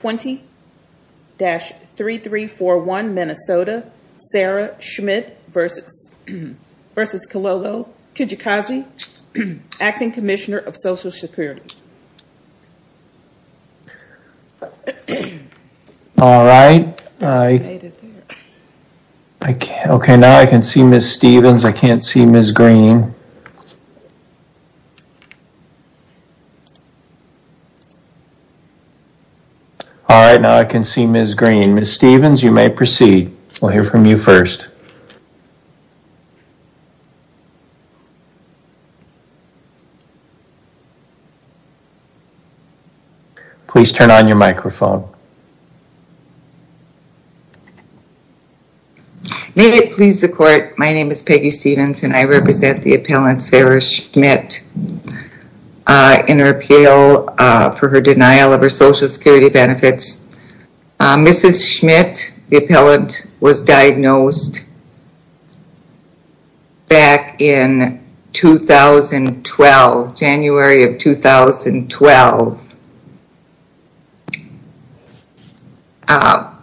20-3341 Minnesota Sarah Schmitt versus versus Kilolo Kijakazi Acting Commissioner of Social Security All right, okay now I can see Miss Stevens, I can't see Miss Green All right, now I can see Miss Green. Miss Stevens, you may proceed. We'll hear from you first. Please turn on your microphone May it please the court, my name is Peggy Stevens, and I represent the appellant Sarah Schmitt in her appeal for her denial of her Social Security benefits. Mrs. Schmitt, the appellant, was diagnosed back in 2012, January of 2012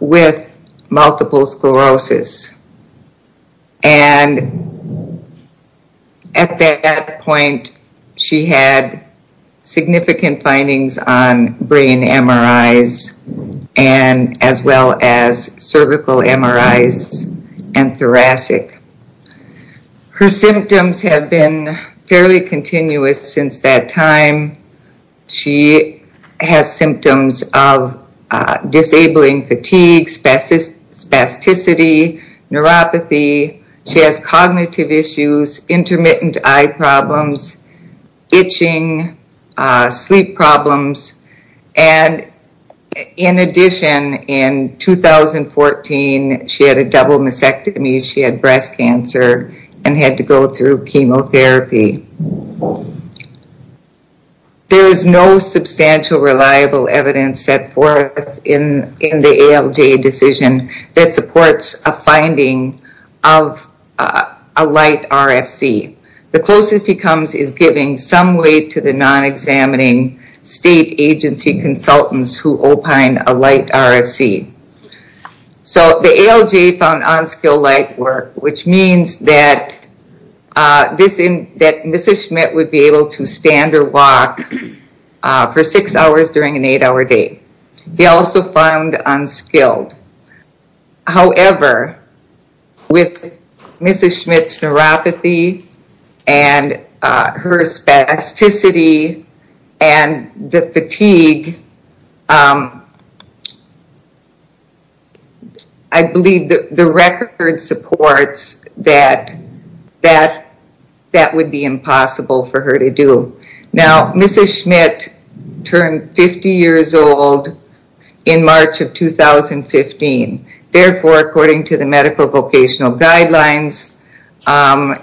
with multiple sclerosis and at that point she had significant findings on brain MRIs and as well as cervical MRIs and thoracic Her symptoms have been fairly continuous since that time she has symptoms of disabling fatigue, spasticity, neuropathy, she has cognitive issues, intermittent eye problems, itching, sleep problems, and in addition in 2014 she had a double mastectomy, she had breast cancer and had to go through chemotherapy. There is no substantial reliable evidence set forth in the ALJ decision that supports a finding of a light RFC. The closest he comes is giving some weight to the non-examining state agency consultants who opine a light RFC. So the ALJ found unskilled light work, which means that Mrs. Schmitt would be able to stand or walk for six hours during an eight-hour day. They also found unskilled. However, with Mrs. Schmitt's neuropathy and her spasticity and the fatigue, I believe that the record supports that that that would be impossible for her to do. Now Mrs. Schmitt turned 50 years old in 2015. Therefore, according to the medical vocational guidelines,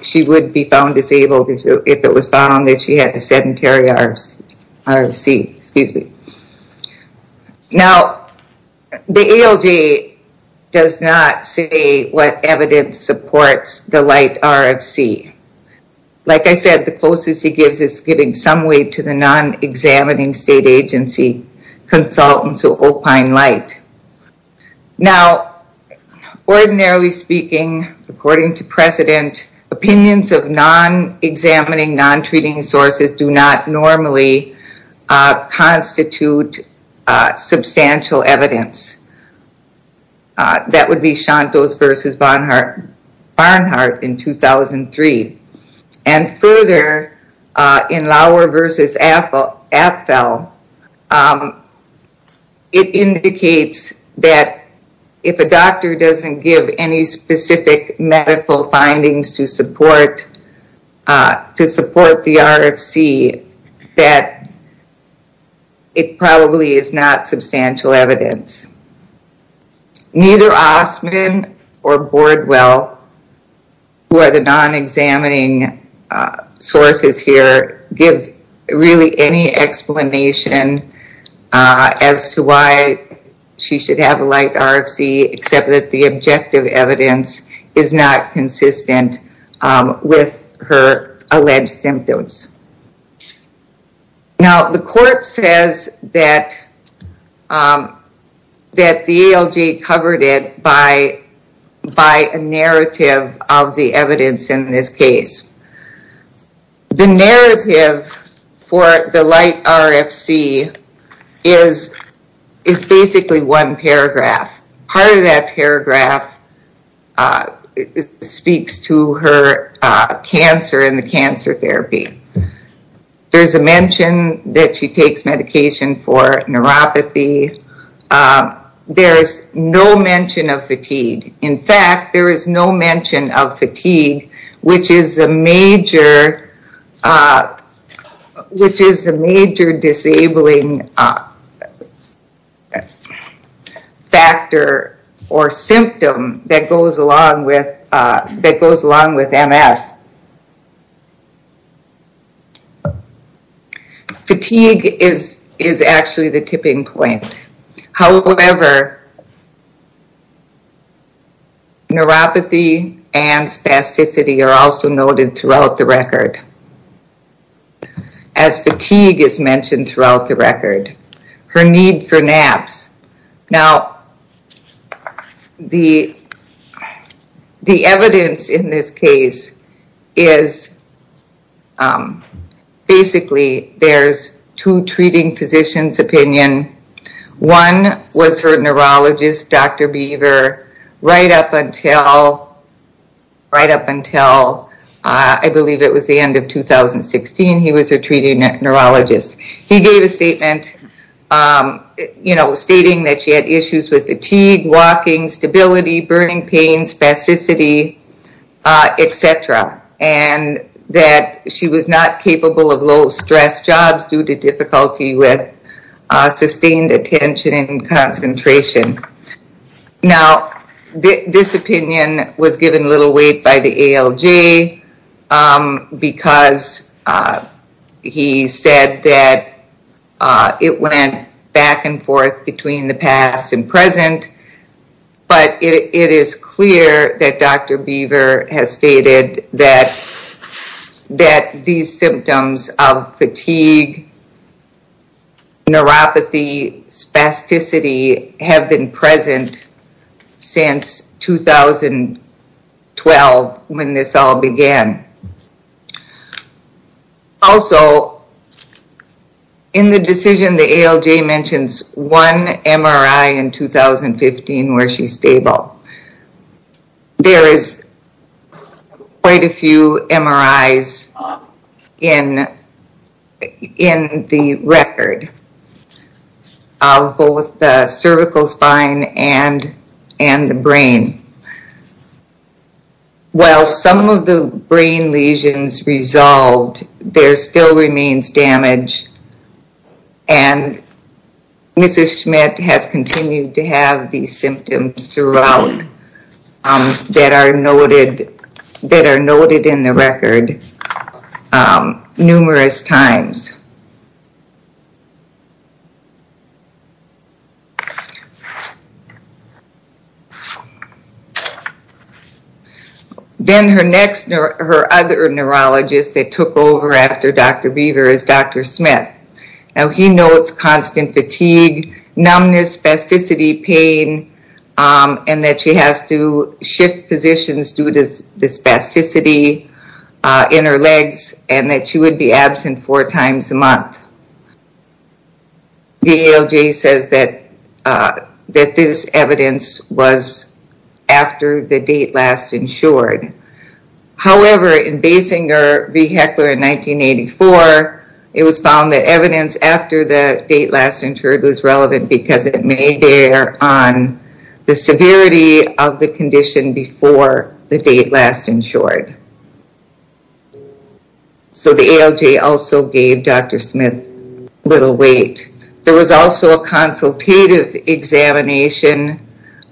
she would be found disabled if it was found that she had a sedentary RFC. Now the ALJ does not say what evidence supports the light RFC. Like I said, the closest he gives is giving some weight to the non-examining state agency consultants who opine light. Now, ordinarily speaking, according to precedent, opinions of non-examining, non-treating sources do not normally constitute substantial evidence. That would be Shantos versus Barnhart in 2003. And further, in Lauer versus Apfel, it indicates that if a doctor doesn't give any specific medical findings to support to support the RFC, that it probably is not substantial evidence. Neither Osman or Bordwell, who are the non-examining sources here, give really any explanation as to why she should have a light RFC, except that the objective evidence is not consistent with her alleged symptoms. Now the court says that that the ALJ covered it by a narrative of the evidence in this case. The narrative for the light RFC is is basically one paragraph. Part of that paragraph speaks to her cancer and the cancer therapy. There's a mention that she takes medication for neuropathy. There is no mention of fatigue. In fact, there is no mention of fatigue, which is a major which is a major disabling factor or symptom that goes along with MS. Fatigue is actually the tipping point. However, Neuropathy and spasticity are also noted throughout the record, as fatigue is mentioned throughout the record. Her need for naps. Now the the evidence in this case is basically, there's two treating physicians opinion. One was her neurologist, Dr. Beaver, right up until right up until I believe it was the end of 2016. He was a treating neurologist. He gave a statement you know stating that she had issues with fatigue, walking, stability, burning pain, spasticity, etc. And that she was not capable of low stress jobs due to difficulty with sustained attention and concentration. Now this opinion was given little weight by the ALJ because he said that it went back and forth between the past and present. But it is clear that Dr. Beaver has stated that that these symptoms of fatigue, neuropathy, spasticity have been present since 2012 when this all began. Also in the decision the ALJ mentions one MRI in 2015 where she's stable. There is quite a few MRIs in the record of both the cervical spine and and the brain. While some of the brain lesions resolved, there still remains damage and Mrs. Schmidt has continued to have these symptoms throughout that are noted that are noted in the record numerous times. Then her next, her other neurologist that took over after Dr. Beaver is Dr. Smith. Now he notes constant fatigue, numbness, spasticity, pain and that she has to shift positions due to the spasticity in her legs and that she would be absent four times a month. The ALJ says that that this evidence was after the date last insured. However in Basinger v. Heckler in 1984 it was found that evidence after the date last insured was relevant because it may bear on the severity of the condition before the date last insured. So the ALJ also gave Dr. Smith little weight. There was also a consultative examination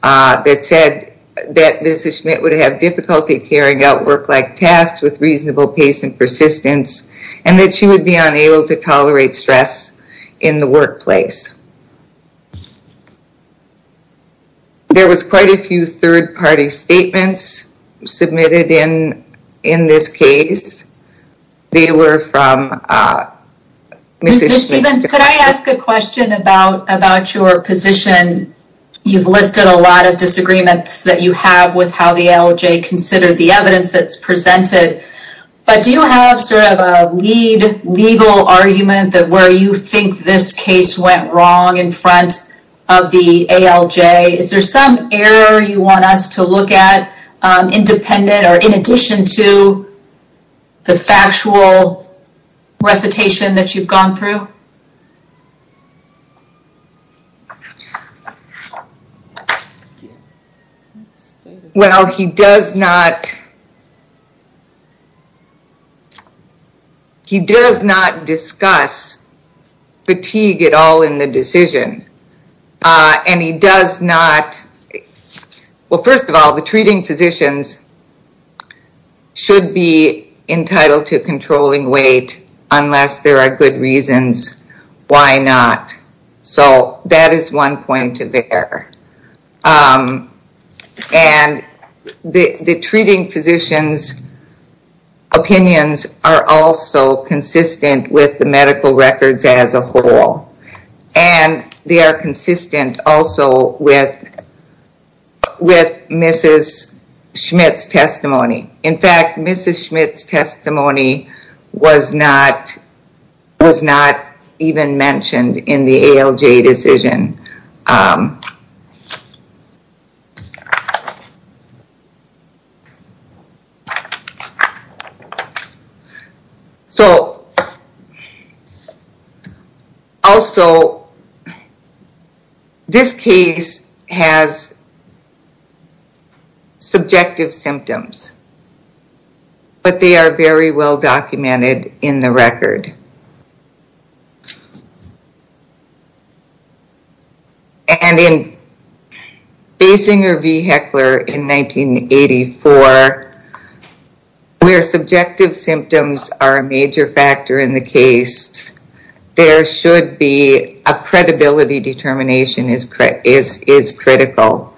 that said that Mrs. Schmidt would have difficulty carrying out work-like tasks with reasonable pace and persistence and that she would be unable to tolerate stress in the workplace. There was quite a few third-party statements submitted in in this case. They were from Mrs. Schmidt. Ms. Stephens, could I ask a question about about your position? You've listed a lot of disagreements that you have with how the ALJ considered the evidence that's presented. But do you have sort of a lead legal argument that where you think this case went wrong in front of the ALJ? Is there some error you want us to look at? Independent or in addition to the factual recitation that you've gone through? Well, he does not He does not discuss fatigue at all in the decision and he does not Well, first of all the treating physicians should be entitled to controlling weight unless there are good reasons. Why not? So that is one point to bear. And the the treating physicians opinions are also consistent with the medical records as a whole and they are consistent also with Mrs. Schmidt's testimony. In fact, Mrs. Schmidt's testimony was not Was not even mentioned in the ALJ decision. So Also This case has Subjective symptoms, but they are very well documented in the record. And in Basinger v. Heckler in 1984 where subjective symptoms are a major factor in the case There should be a credibility determination is critical.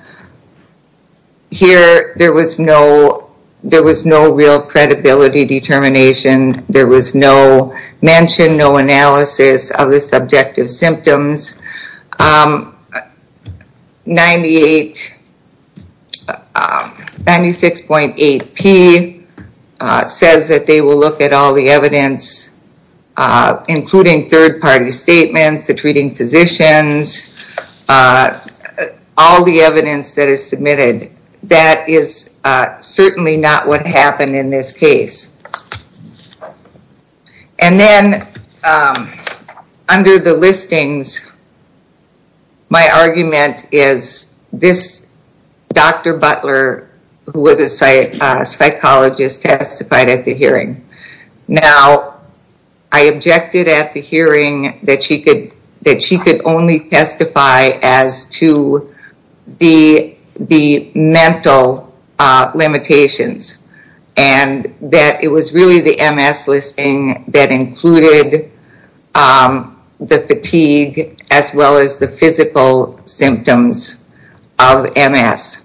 Here there was no There was no real credibility determination. There was no mention, no analysis of the subjective symptoms. 98 96.8 P Says that they will look at all the evidence Including third-party statements, the treating physicians, all the evidence that is submitted. That is certainly not what happened in this case. And then under the listings my argument is this Dr. Butler who was a psychologist testified at the hearing. Now I objected at the hearing that she could that she could only testify as to the mental limitations and That it was really the MS listing that included The fatigue as well as the physical symptoms of MS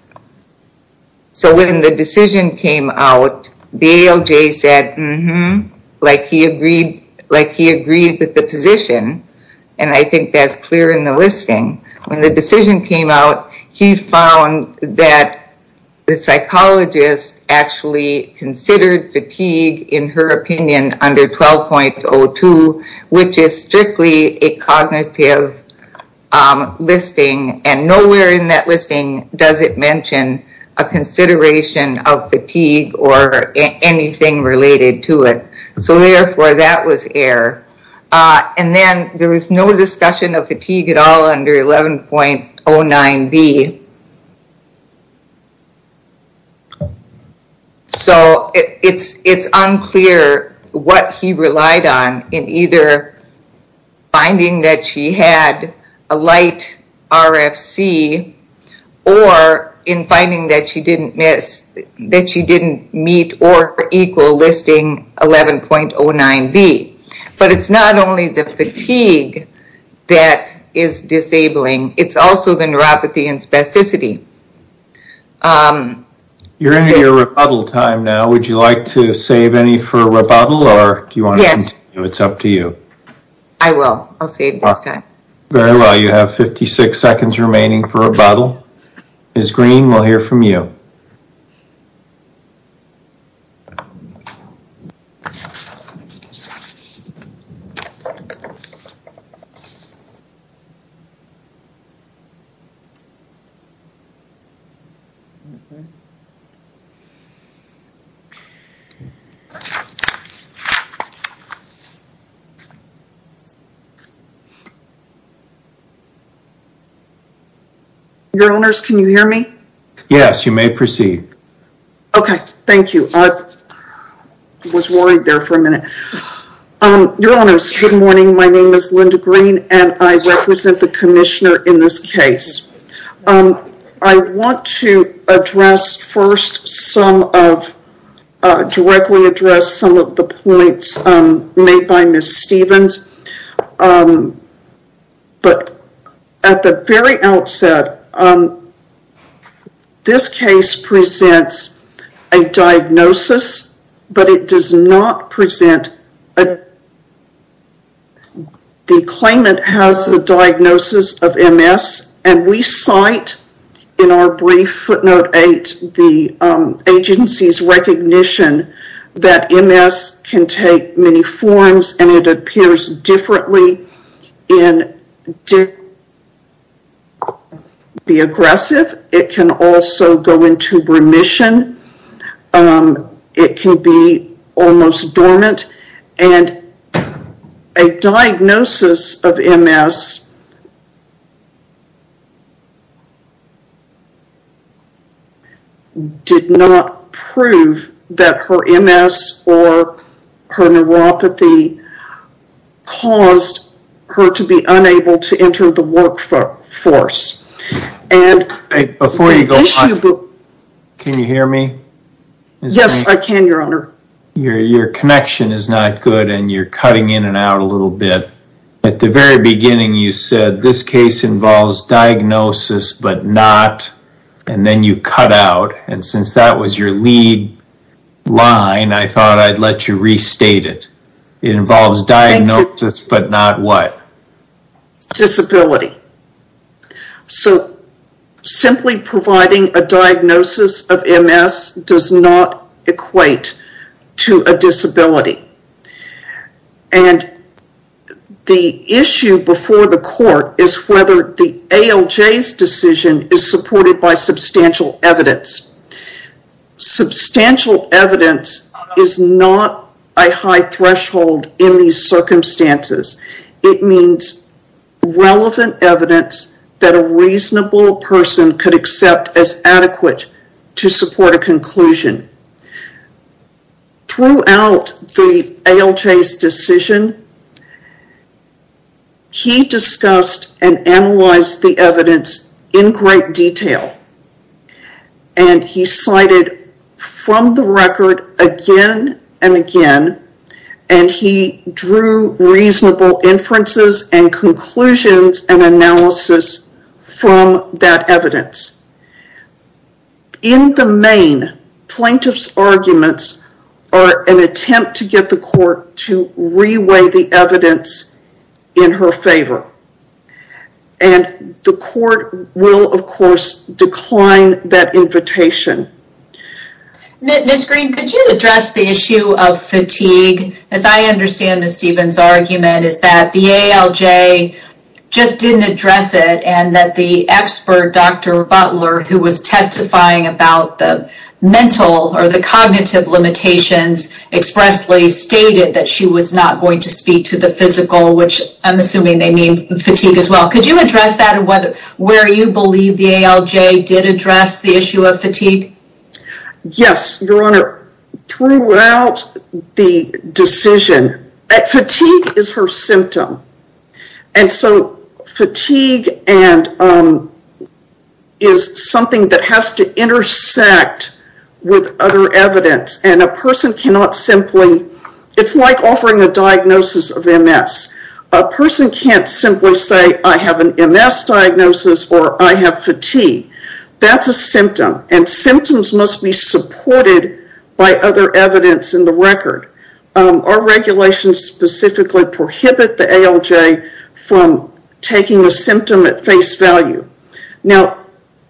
So when the decision came out The ALJ said mm-hmm like he agreed like he agreed with the position And I think that's clear in the listing when the decision came out. He found that the psychologist actually Considered fatigue in her opinion under 12.02, which is strictly a cognitive Listing and nowhere in that listing does it mention a Anything related to it. So therefore that was error And then there was no discussion of fatigue at all under 11.09 B So it's it's unclear what he relied on in either Finding that she had a light RFC or In finding that she didn't miss that she didn't meet or equal listing 11.09 B, but it's not only the fatigue That is disabling. It's also the neuropathy and spasticity You're in your rebuttal time now, would you like to save any for rebuttal or do you want yes, it's up to you I will I'll save this time very well. You have 56 seconds remaining for a bottle Is green we'll hear from you Your owners, can you hear me? Yes, you may proceed. Okay. Thank you. I Was worried there for a minute Your honors. Good morning. My name is Linda green and I represent the commissioner in this case I want to address first some of Directly address some of the points made by Miss Stevens But at the very outset This case presents a diagnosis, but it does not present a The claimant has the diagnosis of MS and we cite in our brief footnote 8 the agency's recognition That MS can take many forms and it appears differently in Be aggressive it can also go into remission it can be almost dormant and a Diagnosis of MS Did Not prove that her MS or her neuropathy caused her to be unable to enter the workforce and Before you go Can you hear me? Yes, I can your honor. Your connection is not good and you're cutting in and out a little bit at the very beginning You said this case involves diagnosis, but not and then you cut out and since that was your lead Line, I thought I'd let you restate it. It involves diagnosis, but not what? Disability so simply providing a diagnosis of MS does not equate to a disability and The issue before the court is whether the ALJ's decision is supported by substantial evidence Substantial evidence is not a high threshold in these circumstances it means Relevant evidence that a reasonable person could accept as adequate to support a conclusion Throughout the ALJ's decision He discussed and analyzed the evidence in great detail and he cited from the record again and again and He drew reasonable inferences and conclusions and analysis from that evidence In the main Plaintiff's arguments are an attempt to get the court to reweigh the evidence in her favor and The court will of course decline that invitation Ms. Green could you address the issue of fatigue as I understand Ms. Stevens argument is that the ALJ Just didn't address it and that the expert Dr. Butler who was testifying about the mental or the cognitive limitations Expressly stated that she was not going to speak to the physical which I'm assuming they mean fatigue as well Could you address that and whether where you believe the ALJ did address the issue of fatigue? Yes, your honor throughout the Decision that fatigue is her symptom and so fatigue and Is something that has to intersect with other evidence and a person cannot simply it's like offering a diagnosis of MS a Person can't simply say I have an MS diagnosis or I have fatigue That's a symptom and symptoms must be supported by other evidence in the record Our regulations specifically prohibit the ALJ from taking a symptom at face value now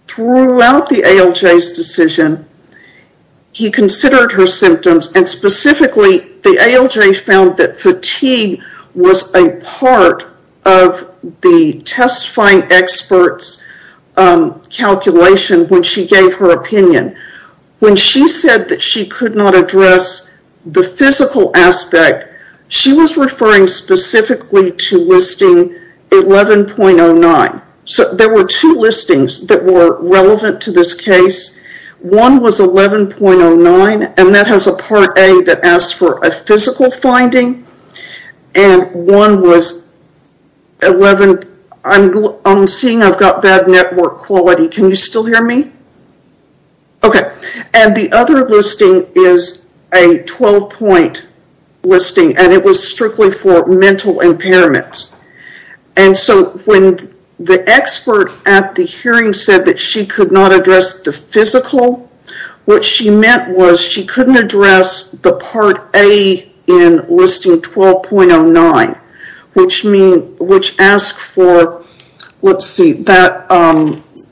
throughout the ALJ's decision he considered her symptoms and specifically the ALJ found that fatigue was a part of the testifying experts Calculation when she gave her opinion When she said that she could not address the physical aspect she was referring specifically to listing 11.09. So there were two listings that were relevant to this case one was 11.09 and that has a part a that asked for a physical finding and one was 11 I'm seeing I've got bad network quality. Can you still hear me? Okay, and the other listing is a 12 point listing and it was strictly for mental impairments and So when the expert at the hearing said that she could not address the physical What she meant was she couldn't address the part a in listing 12.09 which mean which asked for Let's see that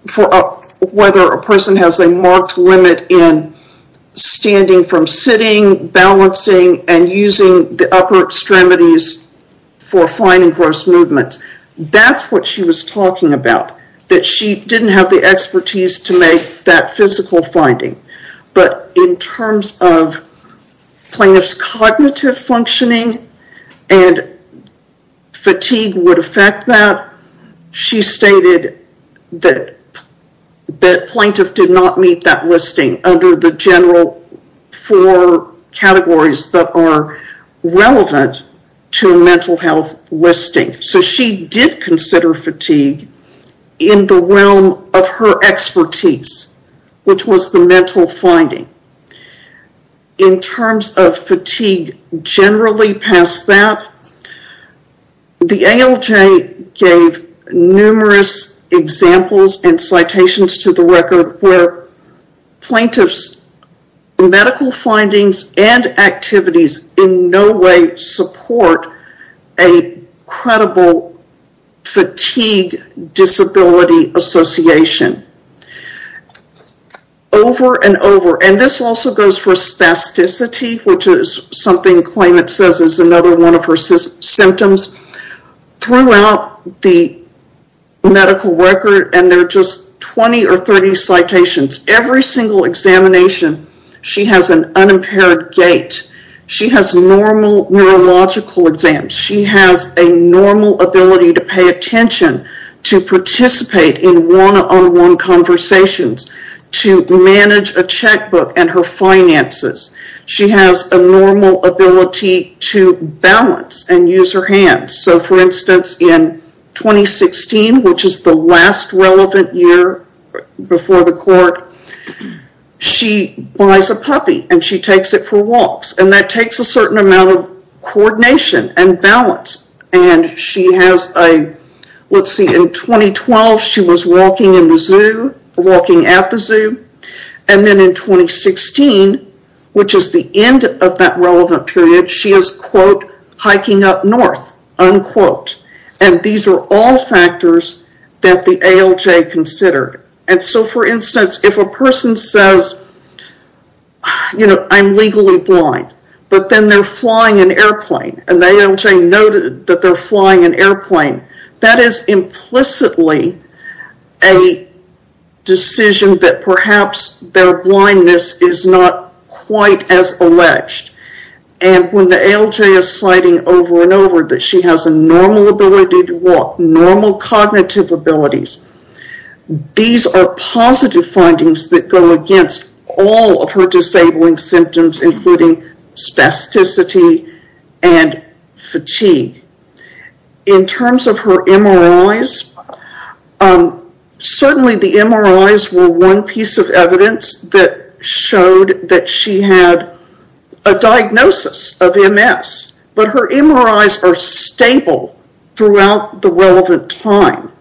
For up whether a person has a marked limit in standing from sitting balancing and using the upper extremities for finding gross movements That's what she was talking about that. She didn't have the expertise to make that physical finding but in terms of plaintiffs cognitive functioning and Fatigue would affect that She stated that That plaintiff did not meet that listing under the general for categories that are relevant to a mental health listing so she did consider fatigue in the realm of her expertise which was the mental finding in terms of fatigue generally past that The ALJ gave numerous examples and citations to the record where plaintiffs medical findings and activities in no way support a credible fatigue disability association Over and over and this also goes for spasticity Which is something claimant says is another one of her symptoms throughout the Medical record and they're just 20 or 30 citations every single examination She has an unimpaired gait She has normal neurological exams She has a normal ability to pay attention to participate in one-on-one Conversations to manage a checkbook and her finances She has a normal ability to balance and use her hands. So for instance in 2016 which is the last relevant year before the court She buys a puppy and she takes it for walks and that takes a certain amount of coordination and balance and she has a Let's see in 2012 she was walking in the zoo walking at the zoo and then in 2016 which is the end of that relevant period she is quote hiking up north unquote and these are all factors that the ALJ considered and so for instance if a person says You know, I'm legally blind But then they're flying an airplane and the ALJ noted that they're flying an airplane that is implicitly a Decision that perhaps their blindness is not quite as alleged and When the ALJ is citing over and over that she has a normal ability to walk normal cognitive abilities These are positive findings that go against all of her disabling symptoms including spasticity and fatigue in terms of her MRIs Certainly the MRIs were one piece of evidence that showed that she had a Diagnosis of MS, but her MRIs are stable throughout the relevant time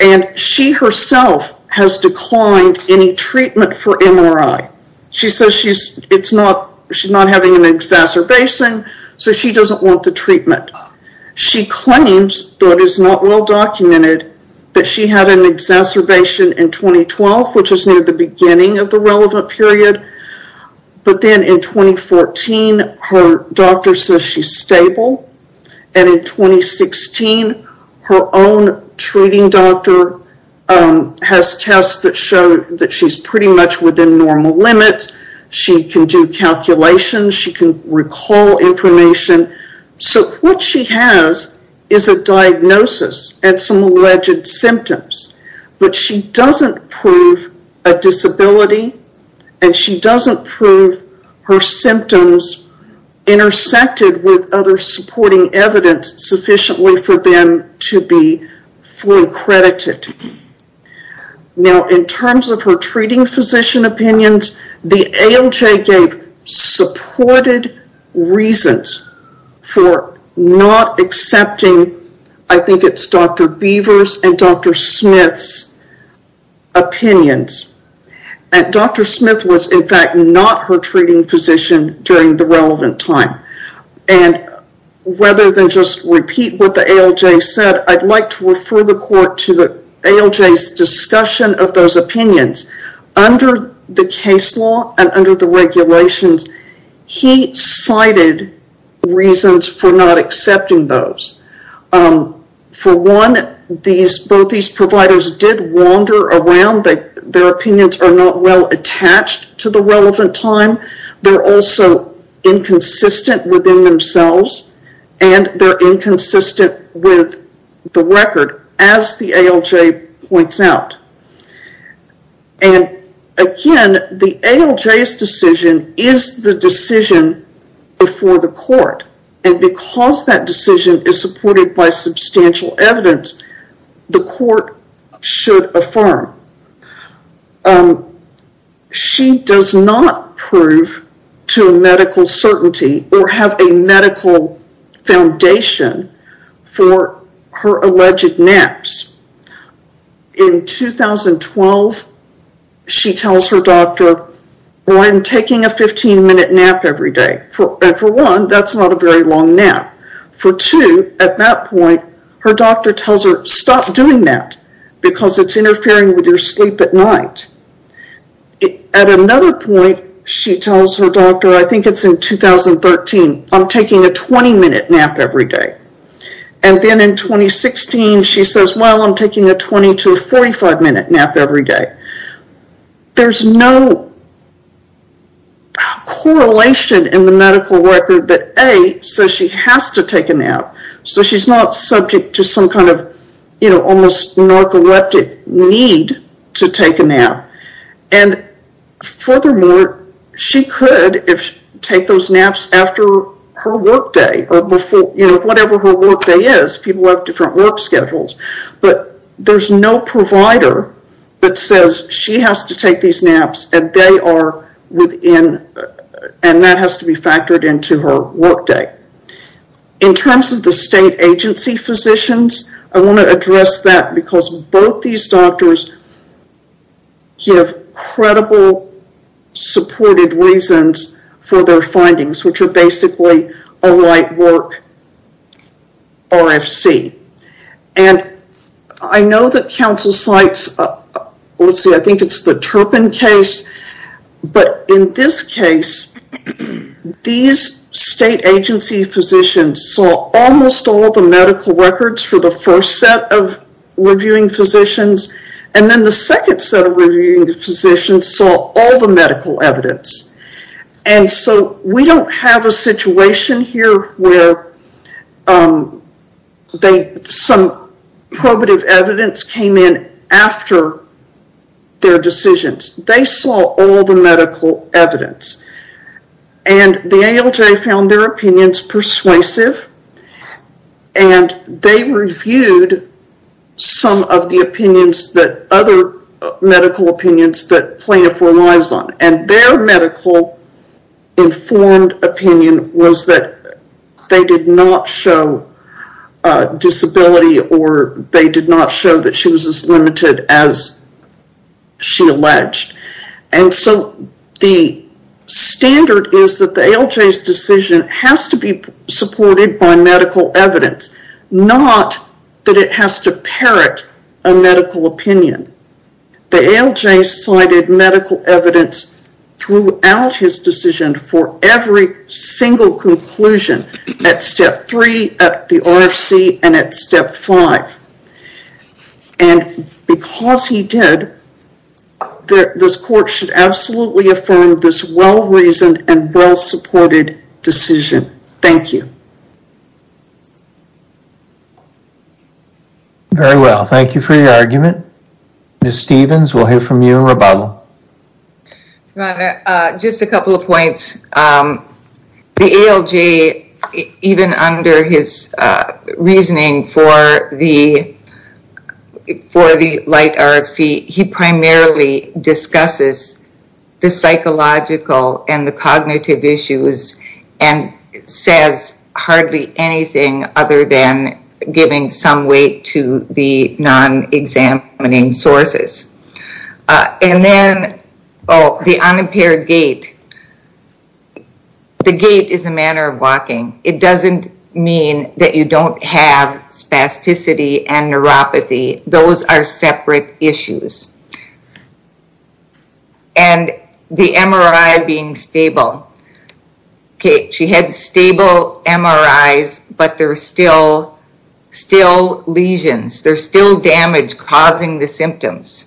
And She herself has declined any treatment for MRI. She says she's it's not she's not having an Exacerbation, so she doesn't want the treatment She claims that is not well documented that she had an exacerbation in 2012 Which is near the beginning of the relevant period but then in 2014 her doctor says she's stable and in 2016 her own treating doctor Has tests that show that she's pretty much within normal limit. She can do calculations She can recall information So what she has is a diagnosis and some alleged symptoms But she doesn't prove a disability and she doesn't prove her symptoms Intersected with other supporting evidence sufficiently for them to be fully credited Now in terms of her treating physician opinions the ALJ gave supported reasons for Not accepting. I think it's Dr. Beavers and Dr. Smith's Opinions and Dr. Smith was in fact not her treating physician during the relevant time and Rather than just repeat what the ALJ said I'd like to refer the court to the ALJ's discussion of those opinions Under the case law and under the regulations He cited reasons for not accepting those For one these both these providers did wander around that their opinions are not well attached to the relevant time they're also inconsistent within themselves and they're inconsistent with the record as the ALJ points out and Again the ALJ's decision is the decision Before the court and because that decision is supported by substantial evidence The court should affirm She does not prove to a medical certainty or have a medical foundation for her alleged naps in 2012 She tells her doctor Well, I'm taking a 15-minute nap every day for and for one that's not a very long nap for two at that point Her doctor tells her stop doing that because it's interfering with your sleep at night At another point she tells her doctor. I think it's in 2013 I'm taking a 20-minute nap every day and then in 2016 She says well, I'm taking a 20 to 45 minute nap every day. There's no Correlation in the medical record that a so she has to take a nap so she's not subject to some kind of you know, almost narcoleptic need to take a nap and Furthermore she could if take those naps after her workday or before People have different work schedules, but there's no provider That says she has to take these naps and they are within and that has to be factored into her workday In terms of the state agency physicians, I want to address that because both these doctors give credible Supported reasons for their findings, which are basically a light work RFC and I know that council sites Let's see. I think it's the Turpin case but in this case these state agency physicians saw almost all the medical records for the first set of Physicians saw all the medical evidence and so we don't have a situation here where They some probative evidence came in after Their decisions they saw all the medical evidence and the ALJ found their opinions persuasive and They reviewed some of the opinions that other Medical opinions that plaintiff relies on and their medical informed opinion was that they did not show Disability or they did not show that she was as limited as she alleged and so the Standard is that the ALJ's decision has to be supported by medical evidence Not that it has to parrot a medical opinion The ALJ cited medical evidence throughout his decision for every single conclusion at step 3 at the RFC and at step 5 and Because he did This court should absolutely affirm this well-reasoned and well-supported decision. Thank you Very Well, thank you for your argument. Ms. Stevens we'll hear from you in rebuttal Just a couple of points the ALJ even under his reasoning for the For the light RFC he primarily discusses the psychological and the cognitive issues and Says hardly anything other than giving some weight to the non examining sources And then oh the unimpaired gait The gait is a manner of walking it doesn't mean that you don't have spasticity and neuropathy those are separate issues and The MRI being stable Okay, she had stable MRIs, but they're still Still lesions. There's still damage causing the symptoms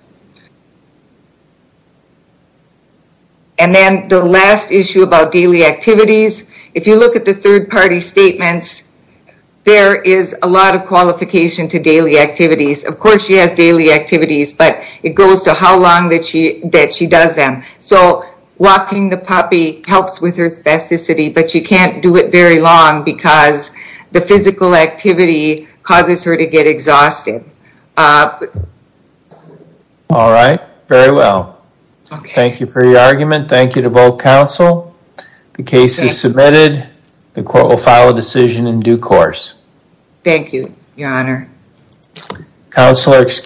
And Then the last issue about daily activities if you look at the third-party statements There is a lot of qualification to daily activities Of course, she has daily activities, but it goes to how long that she that she does them So walking the puppy helps with her spasticity But you can't do it very long because the physical activity causes her to get exhausted All right, very well Thank you for your argument. Thank you to both counsel The case is submitted the court will file a decision in due course Thank you, Your Honor Counselor, excuse me